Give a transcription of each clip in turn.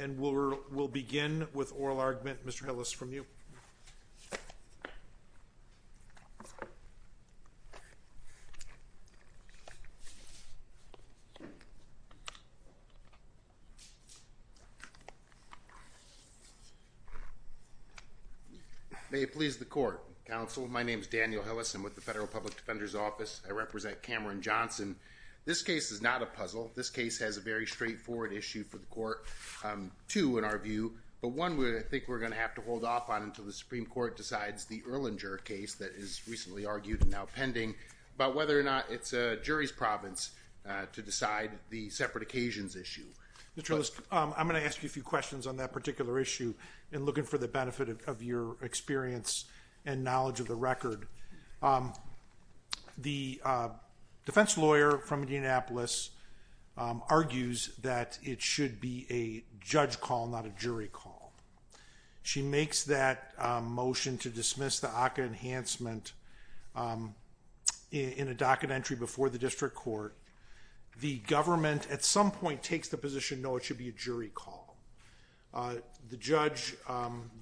and we will begin with oral argument, Mr. Hillis, from you. May it please the court, counsel. My name is Daniel Hillis. I'm with the Federal Public Defender's Office. I represent Cameron Johnson. This case is not a puzzle. This case has a very straightforward issue for the court, two in our view, but one we think we're going to have to hold off on until the Supreme Court decides the Erlinger case that is recently argued and now pending, but whether or not it's a jury's province to decide the separate occasions issue. Mr. Hillis, I'm going to ask you a few questions on that particular issue in looking for the benefit of your experience and knowledge of the record. The defense lawyer from Indianapolis argues that it should be a judge call, not a jury call. She makes that motion to dismiss the ACA enhancement in a docket entry before the district court. The government at some point takes the position, no, it should be a jury call. The judge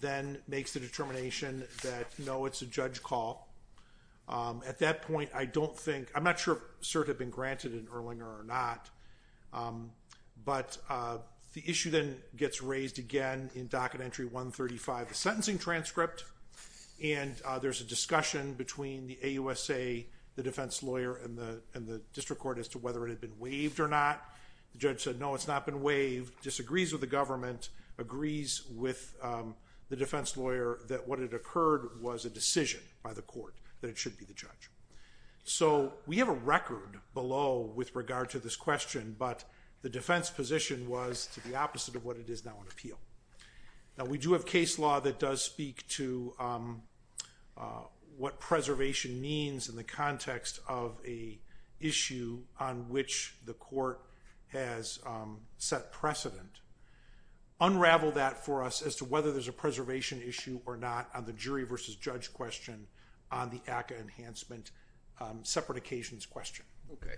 then makes the determination that, no, it's a judge call. At that point, I don't think, I'm not sure if cert had been granted in Erlinger or not, but the issue then gets raised again in docket entry 135, the sentencing transcript, and there's a discussion between the AUSA, the defense lawyer, and the district court as to whether it had been waived or not. She disagrees with the government, agrees with the defense lawyer that what had occurred was a decision by the court that it should be the judge. So we have a record below with regard to this question, but the defense position was to the opposite of what it is now in appeal. Now we do have case law that does speak to what preservation means in the context of a issue on which the court has set precedent. Unravel that for us as to whether there's a preservation issue or not on the jury versus judge question on the ACA enhancement separate occasions question. Okay.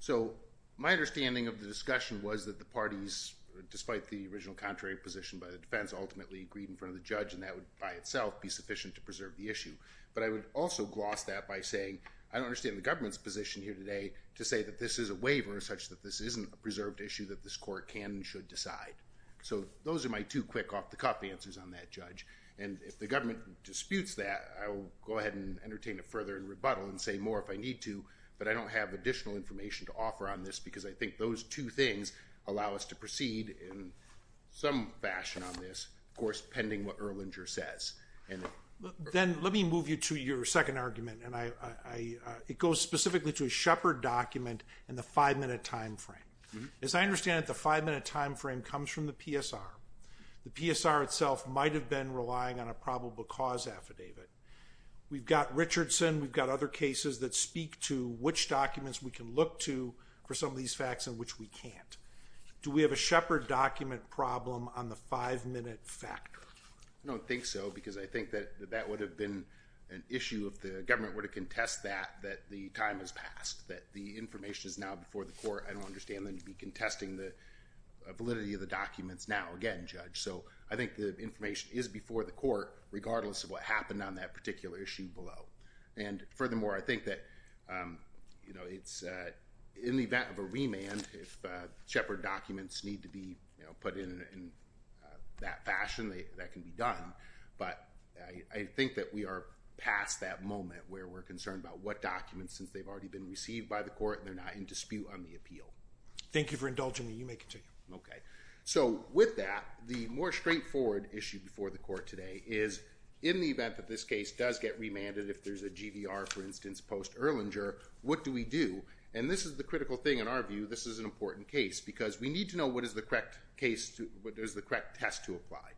So my understanding of the discussion was that the parties, despite the original contrary position by the defense, ultimately agreed in front of the judge and that would by itself be sufficient to preserve the issue. But I would also gloss that by saying I don't understand the government's position here today to say that this is a waiver such that this isn't a preserved issue that this court can and should decide. So those are my two quick off-the-cuff answers on that, Judge. And if the government disputes that, I will go ahead and entertain a further rebuttal and say more if I need to, but I don't have additional information to offer on this because I think those two things allow us to proceed in some fashion on this, of course, pending what Erlinger says. Then let me move you to your second argument, and it goes specifically to a Shepard document and the five-minute time frame. As I understand it, the five-minute time frame comes from the PSR. The PSR itself might have been relying on a probable cause affidavit. We've got Richardson, we've got other cases that speak to which documents we can look to for some of these facts and which we can't. Do we have a Shepard document problem on the five-minute factor? I don't think so because I think that that would have been an issue if the government were to contest that, that the time has passed, that the information is now before the court. I don't understand them to be contesting the validity of the documents now again, Judge. So I think the information is before the court regardless of what happened on that particular issue below. And furthermore, I think that, you know, it's in the event of a remand, if Shepard documents need to be put in that fashion, that can be done. But I think that we are past that moment where we're concerned about what documents since they've already been received by the court and they're not in dispute on the appeal. Thank you for indulging me. You may continue. Okay. So with that, the more straightforward issue before the court today is in the event that this case does get remanded, if there's a GVR, for instance, post Erlanger, what do we do? And this is the critical thing in our view. This is an important case because we need to know what is the correct test to apply.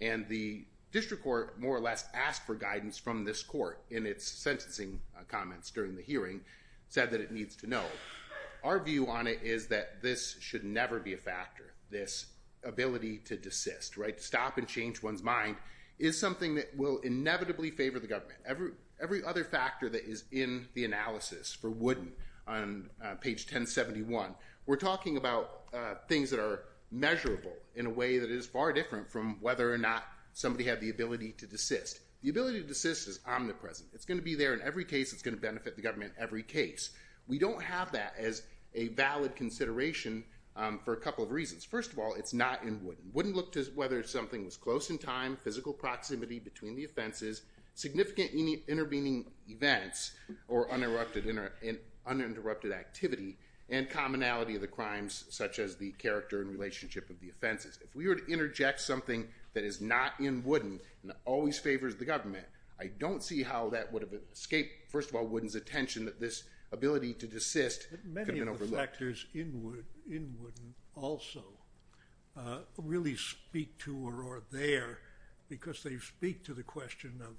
And the district court more or less asked for guidance from this court in its sentencing comments during the hearing, said that it needs to know. Our view on it is that this should never be a factor, this ability to desist, right? Stop and change one's mind is something that will inevitably favor the government. Every other factor that is in the analysis for Wooden on page 1071, we're talking about things that are measurable in a way that is far different from whether or not somebody had the ability to desist. The ability to desist is omnipresent. It's going to be there in every case. It's going to benefit the government in every case. We don't have that as a valid consideration for a couple of reasons. First of all, it's not in Wooden. Wooden looked at whether something was close in time, physical proximity between the offenses, significant intervening events or uninterrupted activity, and commonality of the crimes such as the character and relationship of the offenses. If we were to interject something that is not in Wooden and always favors the government, I don't see how that would have escaped, first of all, Wooden's attention that this ability to desist could have been overlooked. Many of the factors in Wooden also really speak to or are there because they speak to the question of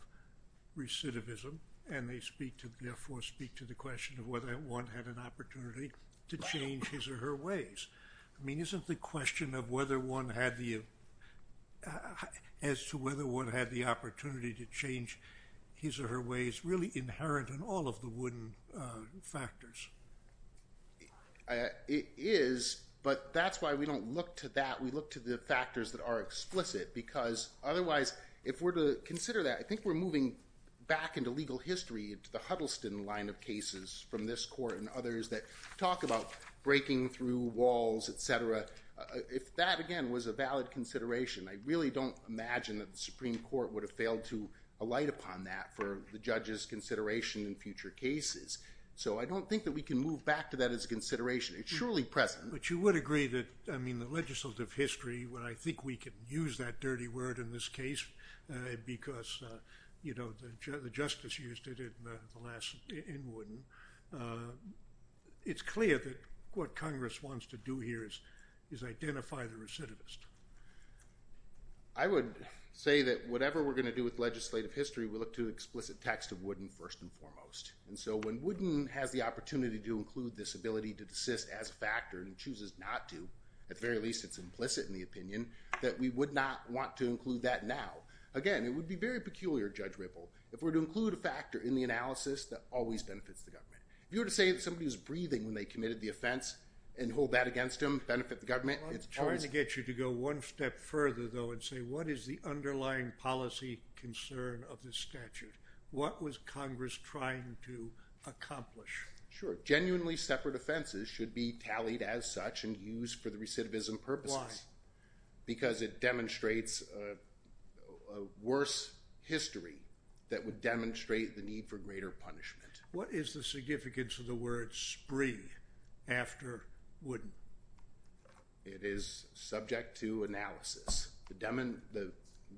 recidivism and they speak to, therefore, speak to the question of whether one had an opportunity to change his or her ways. I mean, isn't the question of whether one had the, as to whether one had the opportunity to change his or her ways really inherent in all of the Wooden factors? It is, but that's why we don't look to that. We look to the factors that are explicit because otherwise, if we're to consider that, I think we're moving back into legal history, into the Huddleston line of cases from this court and others that talk about breaking through walls, et cetera. If that, again, was a valid consideration, I really don't imagine that the Supreme Court would have failed to alight upon that for the judge's consideration in future cases. So I don't think that we can move back to that as a consideration. It's surely present. But you would agree that, I mean, the legislative history, when I think we could use that dirty word in this case because, you know, the justice used it in Wooden, it's clear that what Congress wants to do here is identify the recidivist. I would say that whatever we're going to do with legislative history, we look to explicit text of Wooden first and foremost. And so when Wooden has the opportunity to include this ability to desist as a factor and chooses not to, at the very least it's implicit in the opinion, that we would not want to include that now. Again, it would be very peculiar, Judge Ripple, if we were to include a factor in the analysis that always benefits the government. If you were to say that somebody was breathing when they committed the offense and hold that against them, benefit the government, it's a choice. I wanted to get you to go one step further, though, and say what is the underlying policy concern of this statute? What was Congress trying to accomplish? Sure. Genuinely separate offenses should be tallied as such and used for the recidivism purposes. Why? Because it demonstrates a worse history that would demonstrate the need for greater punishment. What is the significance of the word spree after Wooden? It is subject to analysis. The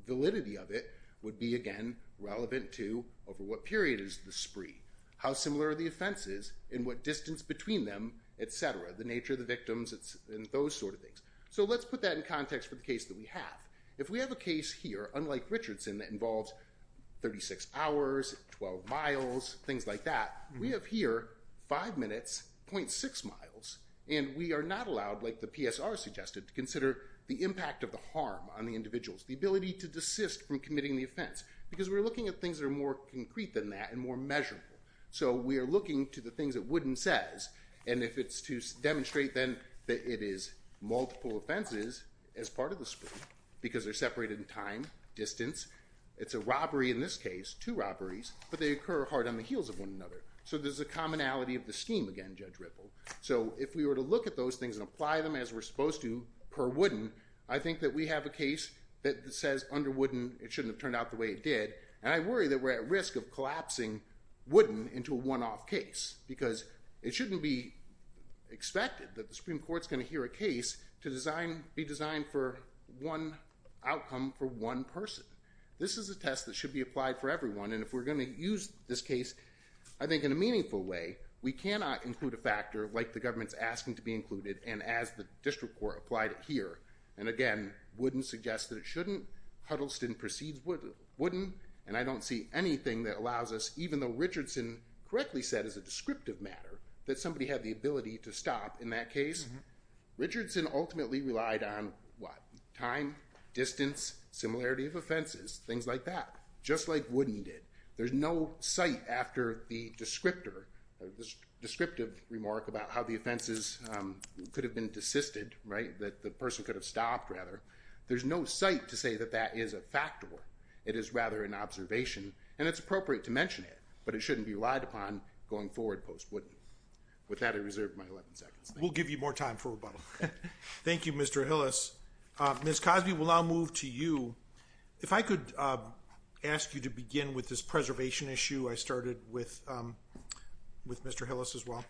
validity of it would be, again, relevant to over what period is the spree? How similar are the offenses and what distance between them, et cetera? The nature of the victims and those sort of things. Let's put that in context for the case that we have. If we have a case here, unlike Richardson, that involves 36 hours, 12 miles, things like that, we have here 5 minutes, 0.6 miles, and we are not allowed, like the PSR suggested, to consider the impact of the harm on the individuals, the ability to desist from committing the offense. Because we are looking at things that are more concrete than that and more measurable. So we are looking to the things that Wooden says, and if it's to demonstrate, then, that it is multiple offenses as part of the spree, because they're separated in time, distance. It's a robbery in this case, two robberies, but they occur hard on the heels of one another. So there's a commonality of the scheme, again, Judge Ripple. So if we were to look at those things and apply them as we're supposed to per Wooden, I think that we have a case that says, under Wooden, it shouldn't have turned out the way it did. And I worry that we're at risk of collapsing Wooden into a one-off case, because it shouldn't be expected that the Supreme Court's going to hear a case to be designed for one outcome, for one person. This is a test that should be applied for everyone, and if we're going to use this case, I think in a meaningful way, we cannot include a factor, like the government's asking to be included, and as the district court applied it here. And again, Wooden suggests that it shouldn't, Huddleston precedes Wooden, and I don't see anything that allows us, even though Richardson correctly said as a descriptive matter that somebody had the ability to stop in that case, Richardson ultimately relied on, what, time, distance, similarity of offenses, things like that, just like Wooden did. There's no site after the descriptor, the descriptive remark about how the offenses could have been desisted, right, that the person could have stopped, rather. There's no site to say that that is a factor. It is rather an observation, and it's appropriate to mention it, but it shouldn't be relied upon going forward post-Wooden. With that, I reserve my 11 seconds. We'll give you more time for rebuttal. Thank you, Mr. Hillis. Ms. Cosby, we'll now move to you. If I could ask you to begin with this preservation issue I started with Mr. Hillis as well.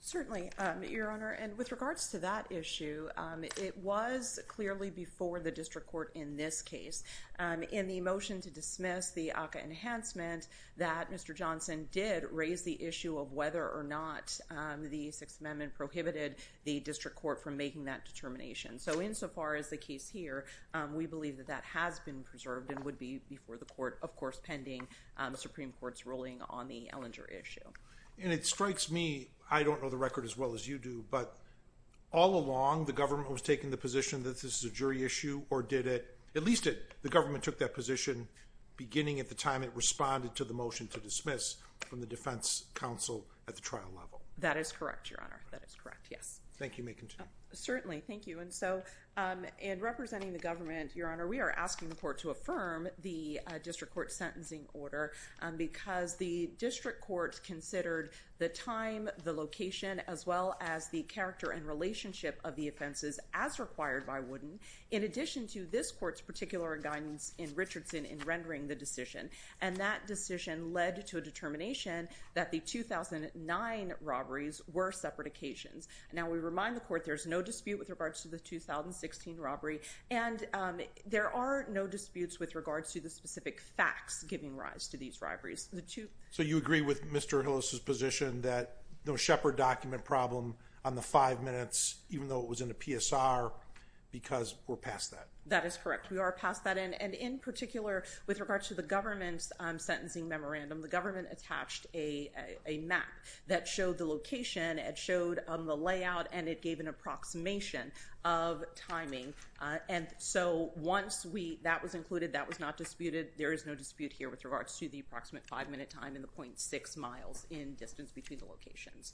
Certainly, Your Honor, and with regards to that issue, it was clearly before the district court in this case, in the motion to dismiss the ACCA enhancement, that Mr. Johnson did raise the issue of whether or not the Sixth Amendment prohibited the district court from making that determination. So, insofar as the case here, we believe that that has been preserved and would be before the court, of course, pending the Supreme Court's ruling on the Ellinger issue. And it strikes me, I don't know the record as well as you do, but all along the government was taking the position that this is a jury issue, or did it, at least the government took that position beginning at the time it responded to the motion to dismiss from the defense counsel at the trial level. That is correct, Your Honor. That is correct, yes. Thank you. You may continue. Certainly. Thank you. And so, in representing the government, Your Honor, we are asking the court to affirm the district court's sentencing order because the district court considered the time, the location, as well as the character and relationship of the offenses as required by Wooden, in addition to this court's particular guidance in Richardson in rendering the decision. And that decision led to a determination that the 2009 robberies were separatications. Now, we remind the court there's no dispute with regards to the 2016 robbery, and there are no disputes with regards to the specific facts giving rise to these robberies. So you agree with Mr. Hillis's position that the Shepherd document problem on the five minutes, even though it was in a PSR, because we're past that? That is correct. We are past that. And in particular, with regards to the government's sentencing memorandum, the government attached a map that showed the location, it showed the layout, and it gave an approximation of timing. And so, once that was included, that was not disputed. There is no dispute here with regards to the approximate five minute time and the .6 miles in distance between the locations.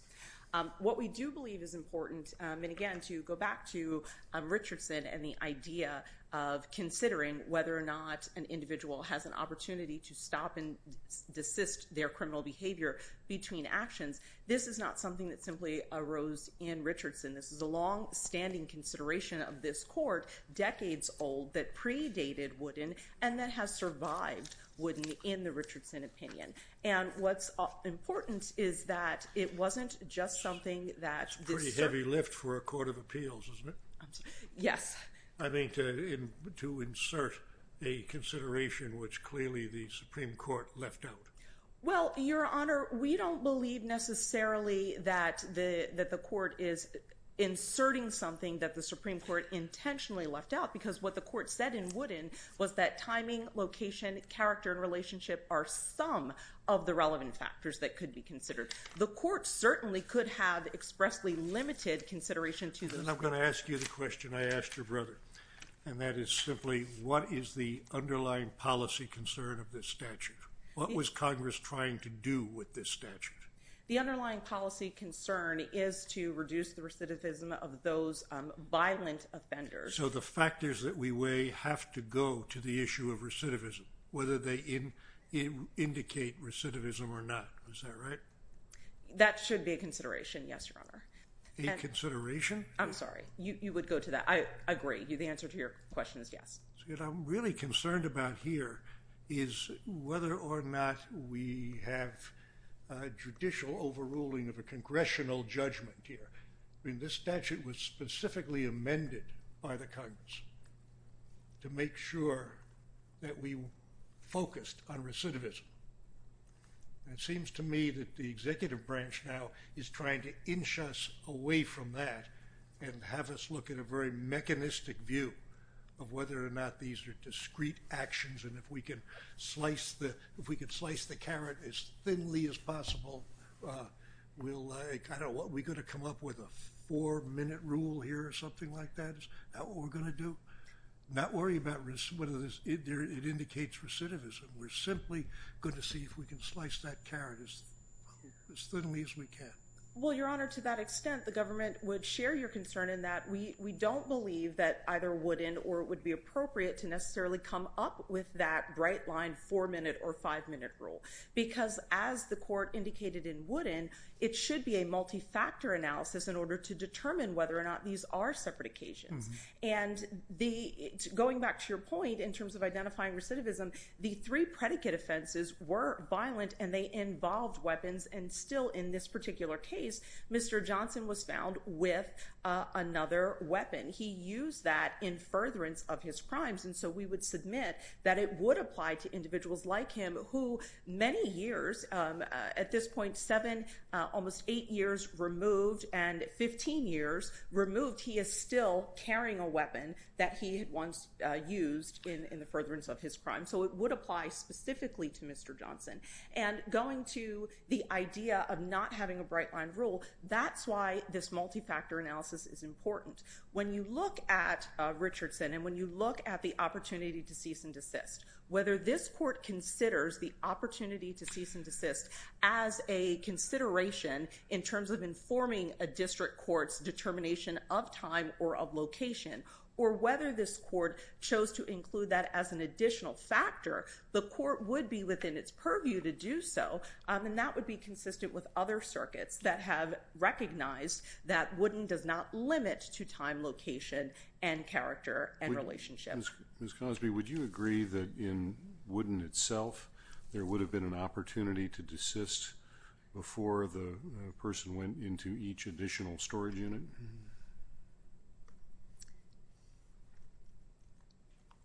What we do believe is important, and again, to go back to Richardson and the idea of considering whether or not an individual has an opportunity to stop and desist their criminal behavior between actions, this is not something that simply arose in Richardson. This is a long-standing consideration of this court, decades old, that predated Woodin, and that has survived Woodin in the Richardson opinion. And what's important is that it wasn't just something that this- It's a pretty heavy lift for a court of appeals, isn't it? Yes. I mean, to insert a consideration which clearly the Supreme Court left out. Well, Your Honor, we don't believe necessarily that the court is inserting something that the Supreme Court intentionally left out, because what the court said in Woodin was that timing, location, character, and relationship are some of the relevant factors that could be considered. The court certainly could have expressly limited consideration to those- And I'm going to ask you the question I asked your brother, and that is simply what is the underlying policy concern of this statute? What was Congress trying to do with this statute? The underlying policy concern is to reduce the recidivism of those violent offenders. So the factors that we weigh have to go to the issue of recidivism, whether they indicate recidivism or not, is that right? That should be a consideration, yes, Your Honor. A consideration? I'm sorry. You would go to that. I agree. The answer to your question is yes. What I'm really concerned about here is whether or not we have a judicial overruling of a congressional judgment here. I mean, this statute was specifically amended by the Congress to make sure that we focused on recidivism. It seems to me that the executive branch now is trying to inch us away from that and have us look at a very mechanistic view of whether or not these are discrete actions, and if we can slice the carrot as thinly as possible, we'll- I don't know, are we going to come up with a four-minute rule here or something like that? Is that what we're going to do? Not worry about whether it indicates recidivism. We're simply going to see if we can slice that carrot as thinly as we can. Well, Your Honor, to that extent, the government would share your concern in that we don't believe that either wooden or it would be appropriate to necessarily come up with that bright-line four-minute or five-minute rule, because as the court indicated in wooden, it should be a multi-factor analysis in order to determine whether or not these are separate occasions. And going back to your point in terms of identifying recidivism, the three predicate offenses were violent and they involved weapons, and still in this particular case, Mr. Johnson was found with another weapon. He used that in furtherance of his crimes, and so we would submit that it would apply to individuals like him, who many years, at this point seven, almost eight years removed, and 15 years removed, he is still carrying a weapon that he had once used in the furtherance of his crime. So it would apply specifically to Mr. Johnson. And going to the idea of not having a bright-line rule, that's why this multi-factor analysis is important. When you look at Richardson and when you look at the opportunity to cease and desist, whether this court considers the opportunity to cease and desist as a consideration in terms of a district court's determination of time or of location, or whether this court chose to include that as an additional factor, the court would be within its purview to do so, and that would be consistent with other circuits that have recognized that Wooden does not limit to time, location, and character, and relationship. Ms. Cosby, would you agree that in Wooden itself, there would have been an opportunity to desist before the person went into each additional storage unit?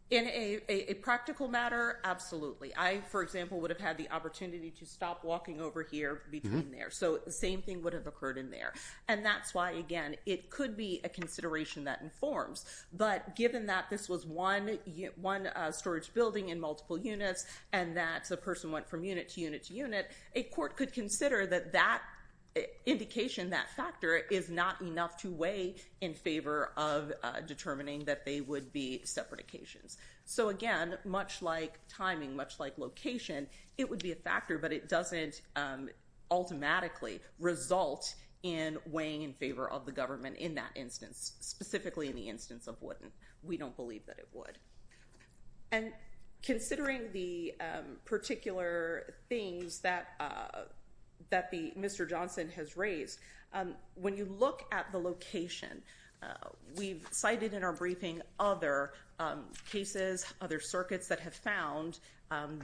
In a practical matter, absolutely. I, for example, would have had the opportunity to stop walking over here between there. So the same thing would have occurred in there. And that's why, again, it could be a consideration that informs. But given that this was one storage building in multiple units, and that the person went from unit to unit to unit, a court could consider that that indication, that factor, is not enough to weigh in favor of determining that they would be separate occasions. So again, much like timing, much like location, it would be a factor, but it doesn't automatically result in weighing in favor of the government in that instance, specifically in the instance of Wooden. We don't believe that it would. And considering the particular things that Mr. Johnson has raised, when you look at the location, we've cited in our briefing other cases, other circuits that have found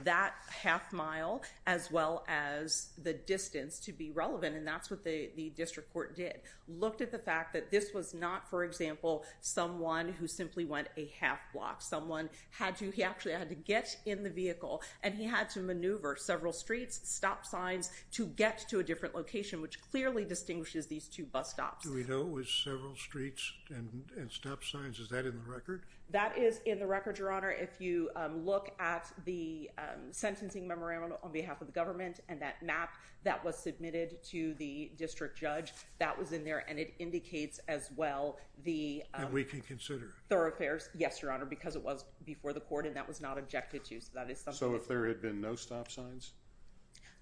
that half mile as well as the distance to be relevant, and that's what the district court did, looked at the fact that this was not, for example, someone who simply went a half block. Someone had to, he actually had to get in the vehicle, and he had to maneuver several streets, stop signs, to get to a different location, which clearly distinguishes these two bus stops. Do we know it was several streets and stop signs? Is that in the record? That is in the record, Your Honor. If you look at the sentencing memorandum on behalf of the government and that map that was submitted to the district judge, that was in there, and it indicates as well the thoroughfares. And we can consider it? Yes, Your Honor, because it was before the court and that was not objected to, so that is something that we can consider. So if there had been no stop signs?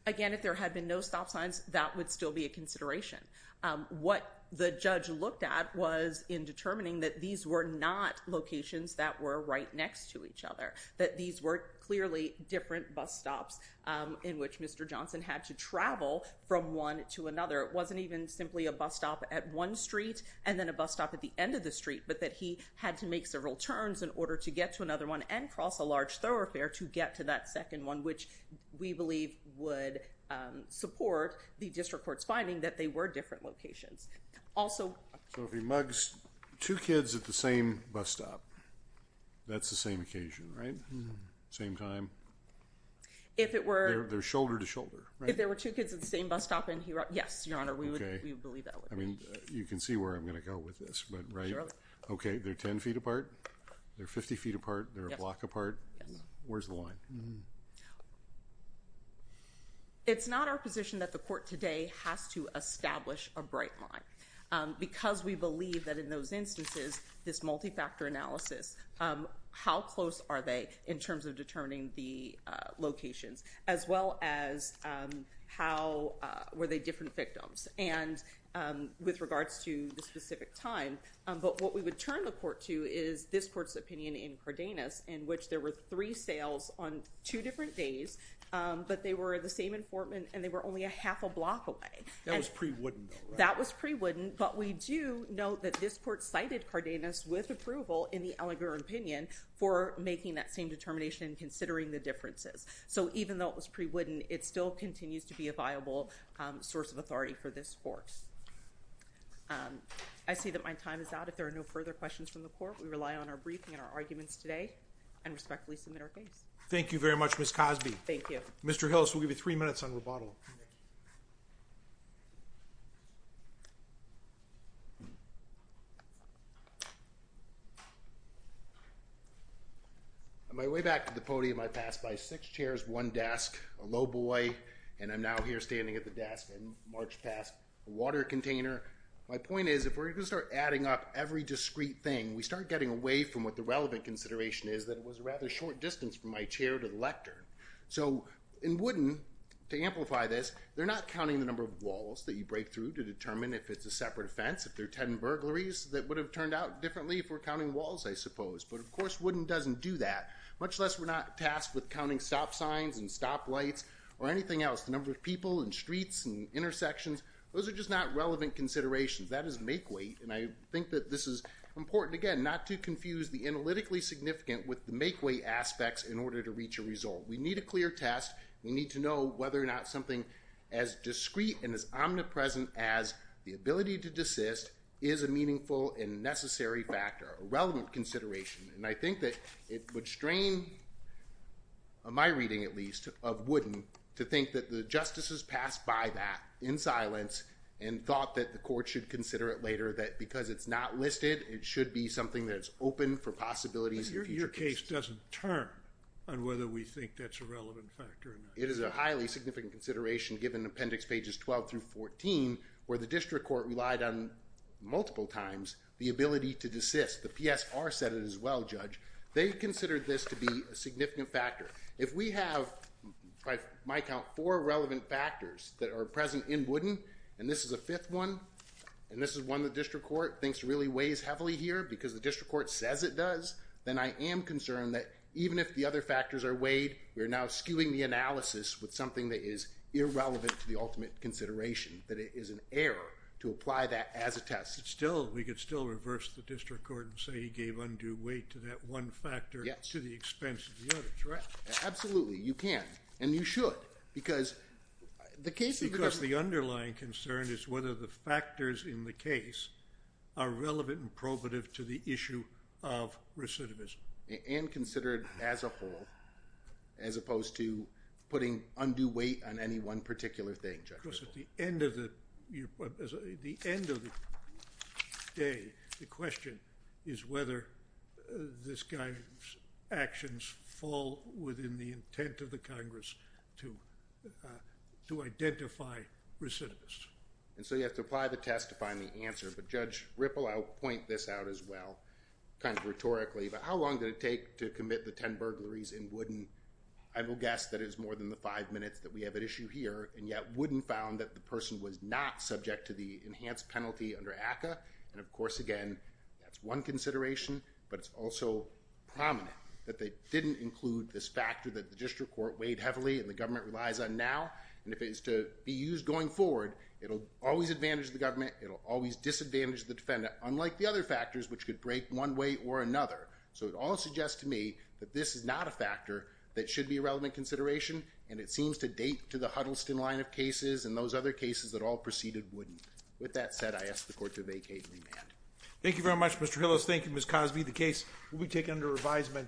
Again, if there had been no stop signs, that would still be a consideration. What the judge looked at was in determining that these were not locations that were right next to each other, that these were clearly different bus stops in which Mr. Johnson had to travel from one to another. It wasn't even simply a bus stop at one street and then a bus stop at the end of the street, but that he had to make several turns in order to get to another one and cross a large thoroughfare to get to that second one, which we believe would support the district court's finding that they were different locations. Also... So if he mugs two kids at the same bus stop, that's the same occasion, right? Same time? If it were... They're shoulder-to-shoulder, right? If there were two kids at the same bus stop and he... Yes, Your Honor. We would believe that. Okay. I mean, you can see where I'm going to go with this, but, right? Surely. Okay. They're 10 feet apart? They're 50 feet apart? Yes. They're a block apart? Yes. Where's the line? It's not our position that the court today has to establish a bright line because we believe that in those instances, this multi-factor analysis, how close are they in terms of determining the locations? As well as how... Were they different victims? And with regards to the specific time, but what we would turn the court to is this court's opinion in Cardenas in which there were three sales on two different days, but they were the same informant and they were only a half a block away. That was pre-Wooden, though, right? That was pre-Wooden, but we do know that this court cited Cardenas with approval in the allegorical opinion for making that same determination and considering the differences. Even though it was pre-Wooden, it still continues to be a viable source of authority for this court. I see that my time is out. If there are no further questions from the court, we rely on our briefing and our arguments today and respectfully submit our case. Thank you very much, Ms. Cosby. Thank you. Mr. Hills, we'll give you three minutes on rebuttal. On my way back to the podium, I pass by six chairs, one desk, a low boy, and I'm now here standing at the desk and march past a water container. My point is if we're going to start adding up every discrete thing, we start getting away from what the relevant consideration is that it was a rather short distance from my chair to the lectern. So in Wooden, to amplify this, they're not counting the number of walls that you break through to determine if it's a separate offense, if there are 10 burglaries that would have turned out differently if we're counting walls, I suppose, but of course, Wooden doesn't do that, much less we're not tasked with counting stop signs and stop lights or anything else. The number of people and streets and intersections, those are just not relevant considerations. That is make weight, and I think that this is important, again, not to confuse the analytically significant with the make weight aspects in order to reach a result. We need a clear test. We need to know whether or not something as discrete and as omnipresent as the ability to desist is a meaningful and necessary factor, a relevant consideration, and I think that it would strain my reading, at least, of Wooden to think that the justices passed by that in silence and thought that the court should consider it later, that because it's not listed, it should be something that's open for possibilities in future cases. It just doesn't turn on whether we think that's a relevant factor or not. It is a highly significant consideration given Appendix Pages 12 through 14, where the district court relied on, multiple times, the ability to desist. The PSR said it as well, Judge. They considered this to be a significant factor. If we have, by my count, four relevant factors that are present in Wooden, and this is a fifth one, and this is one the district court thinks really weighs heavily here because the district court says it does, then I am concerned that even if the other factors are weighed, we are now skewing the analysis with something that is irrelevant to the ultimate consideration, that it is an error to apply that as a test. We could still reverse the district court and say he gave undue weight to that one factor to the expense of the others, right? Absolutely, you can, and you should, because the underlying concern is whether the factors in the case are relevant and probative to the issue of recidivism. And considered as a whole, as opposed to putting undue weight on any one particular thing, Judge. Because at the end of the day, the question is whether this guy's actions fall within the intent of the Congress to identify recidivists. And so you have to apply the test to find the answer, but Judge Ripple, I'll point this out as well, kind of rhetorically, but how long did it take to commit the 10 burglaries in Wooden? I will guess that it is more than the five minutes that we have at issue here, and yet Wooden found that the person was not subject to the enhanced penalty under ACCA, and of course, again, that's one consideration, but it's also prominent that they didn't include this factor that the district court weighed heavily and the government relies on now, and if it is to be used going forward, it'll always advantage the government, it'll always disadvantage the defendant, unlike the other factors which could break one way or another. So it all suggests to me that this is not a factor that should be a relevant consideration, and it seems to date to the Huddleston line of cases and those other cases that all preceded Wooden. With that said, I ask the court to vacate and remand. Thank you very much, Mr. Hillis. Thank you, Ms. Cosby. The case will be taken under revisement.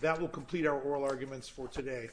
That will complete our oral arguments for today.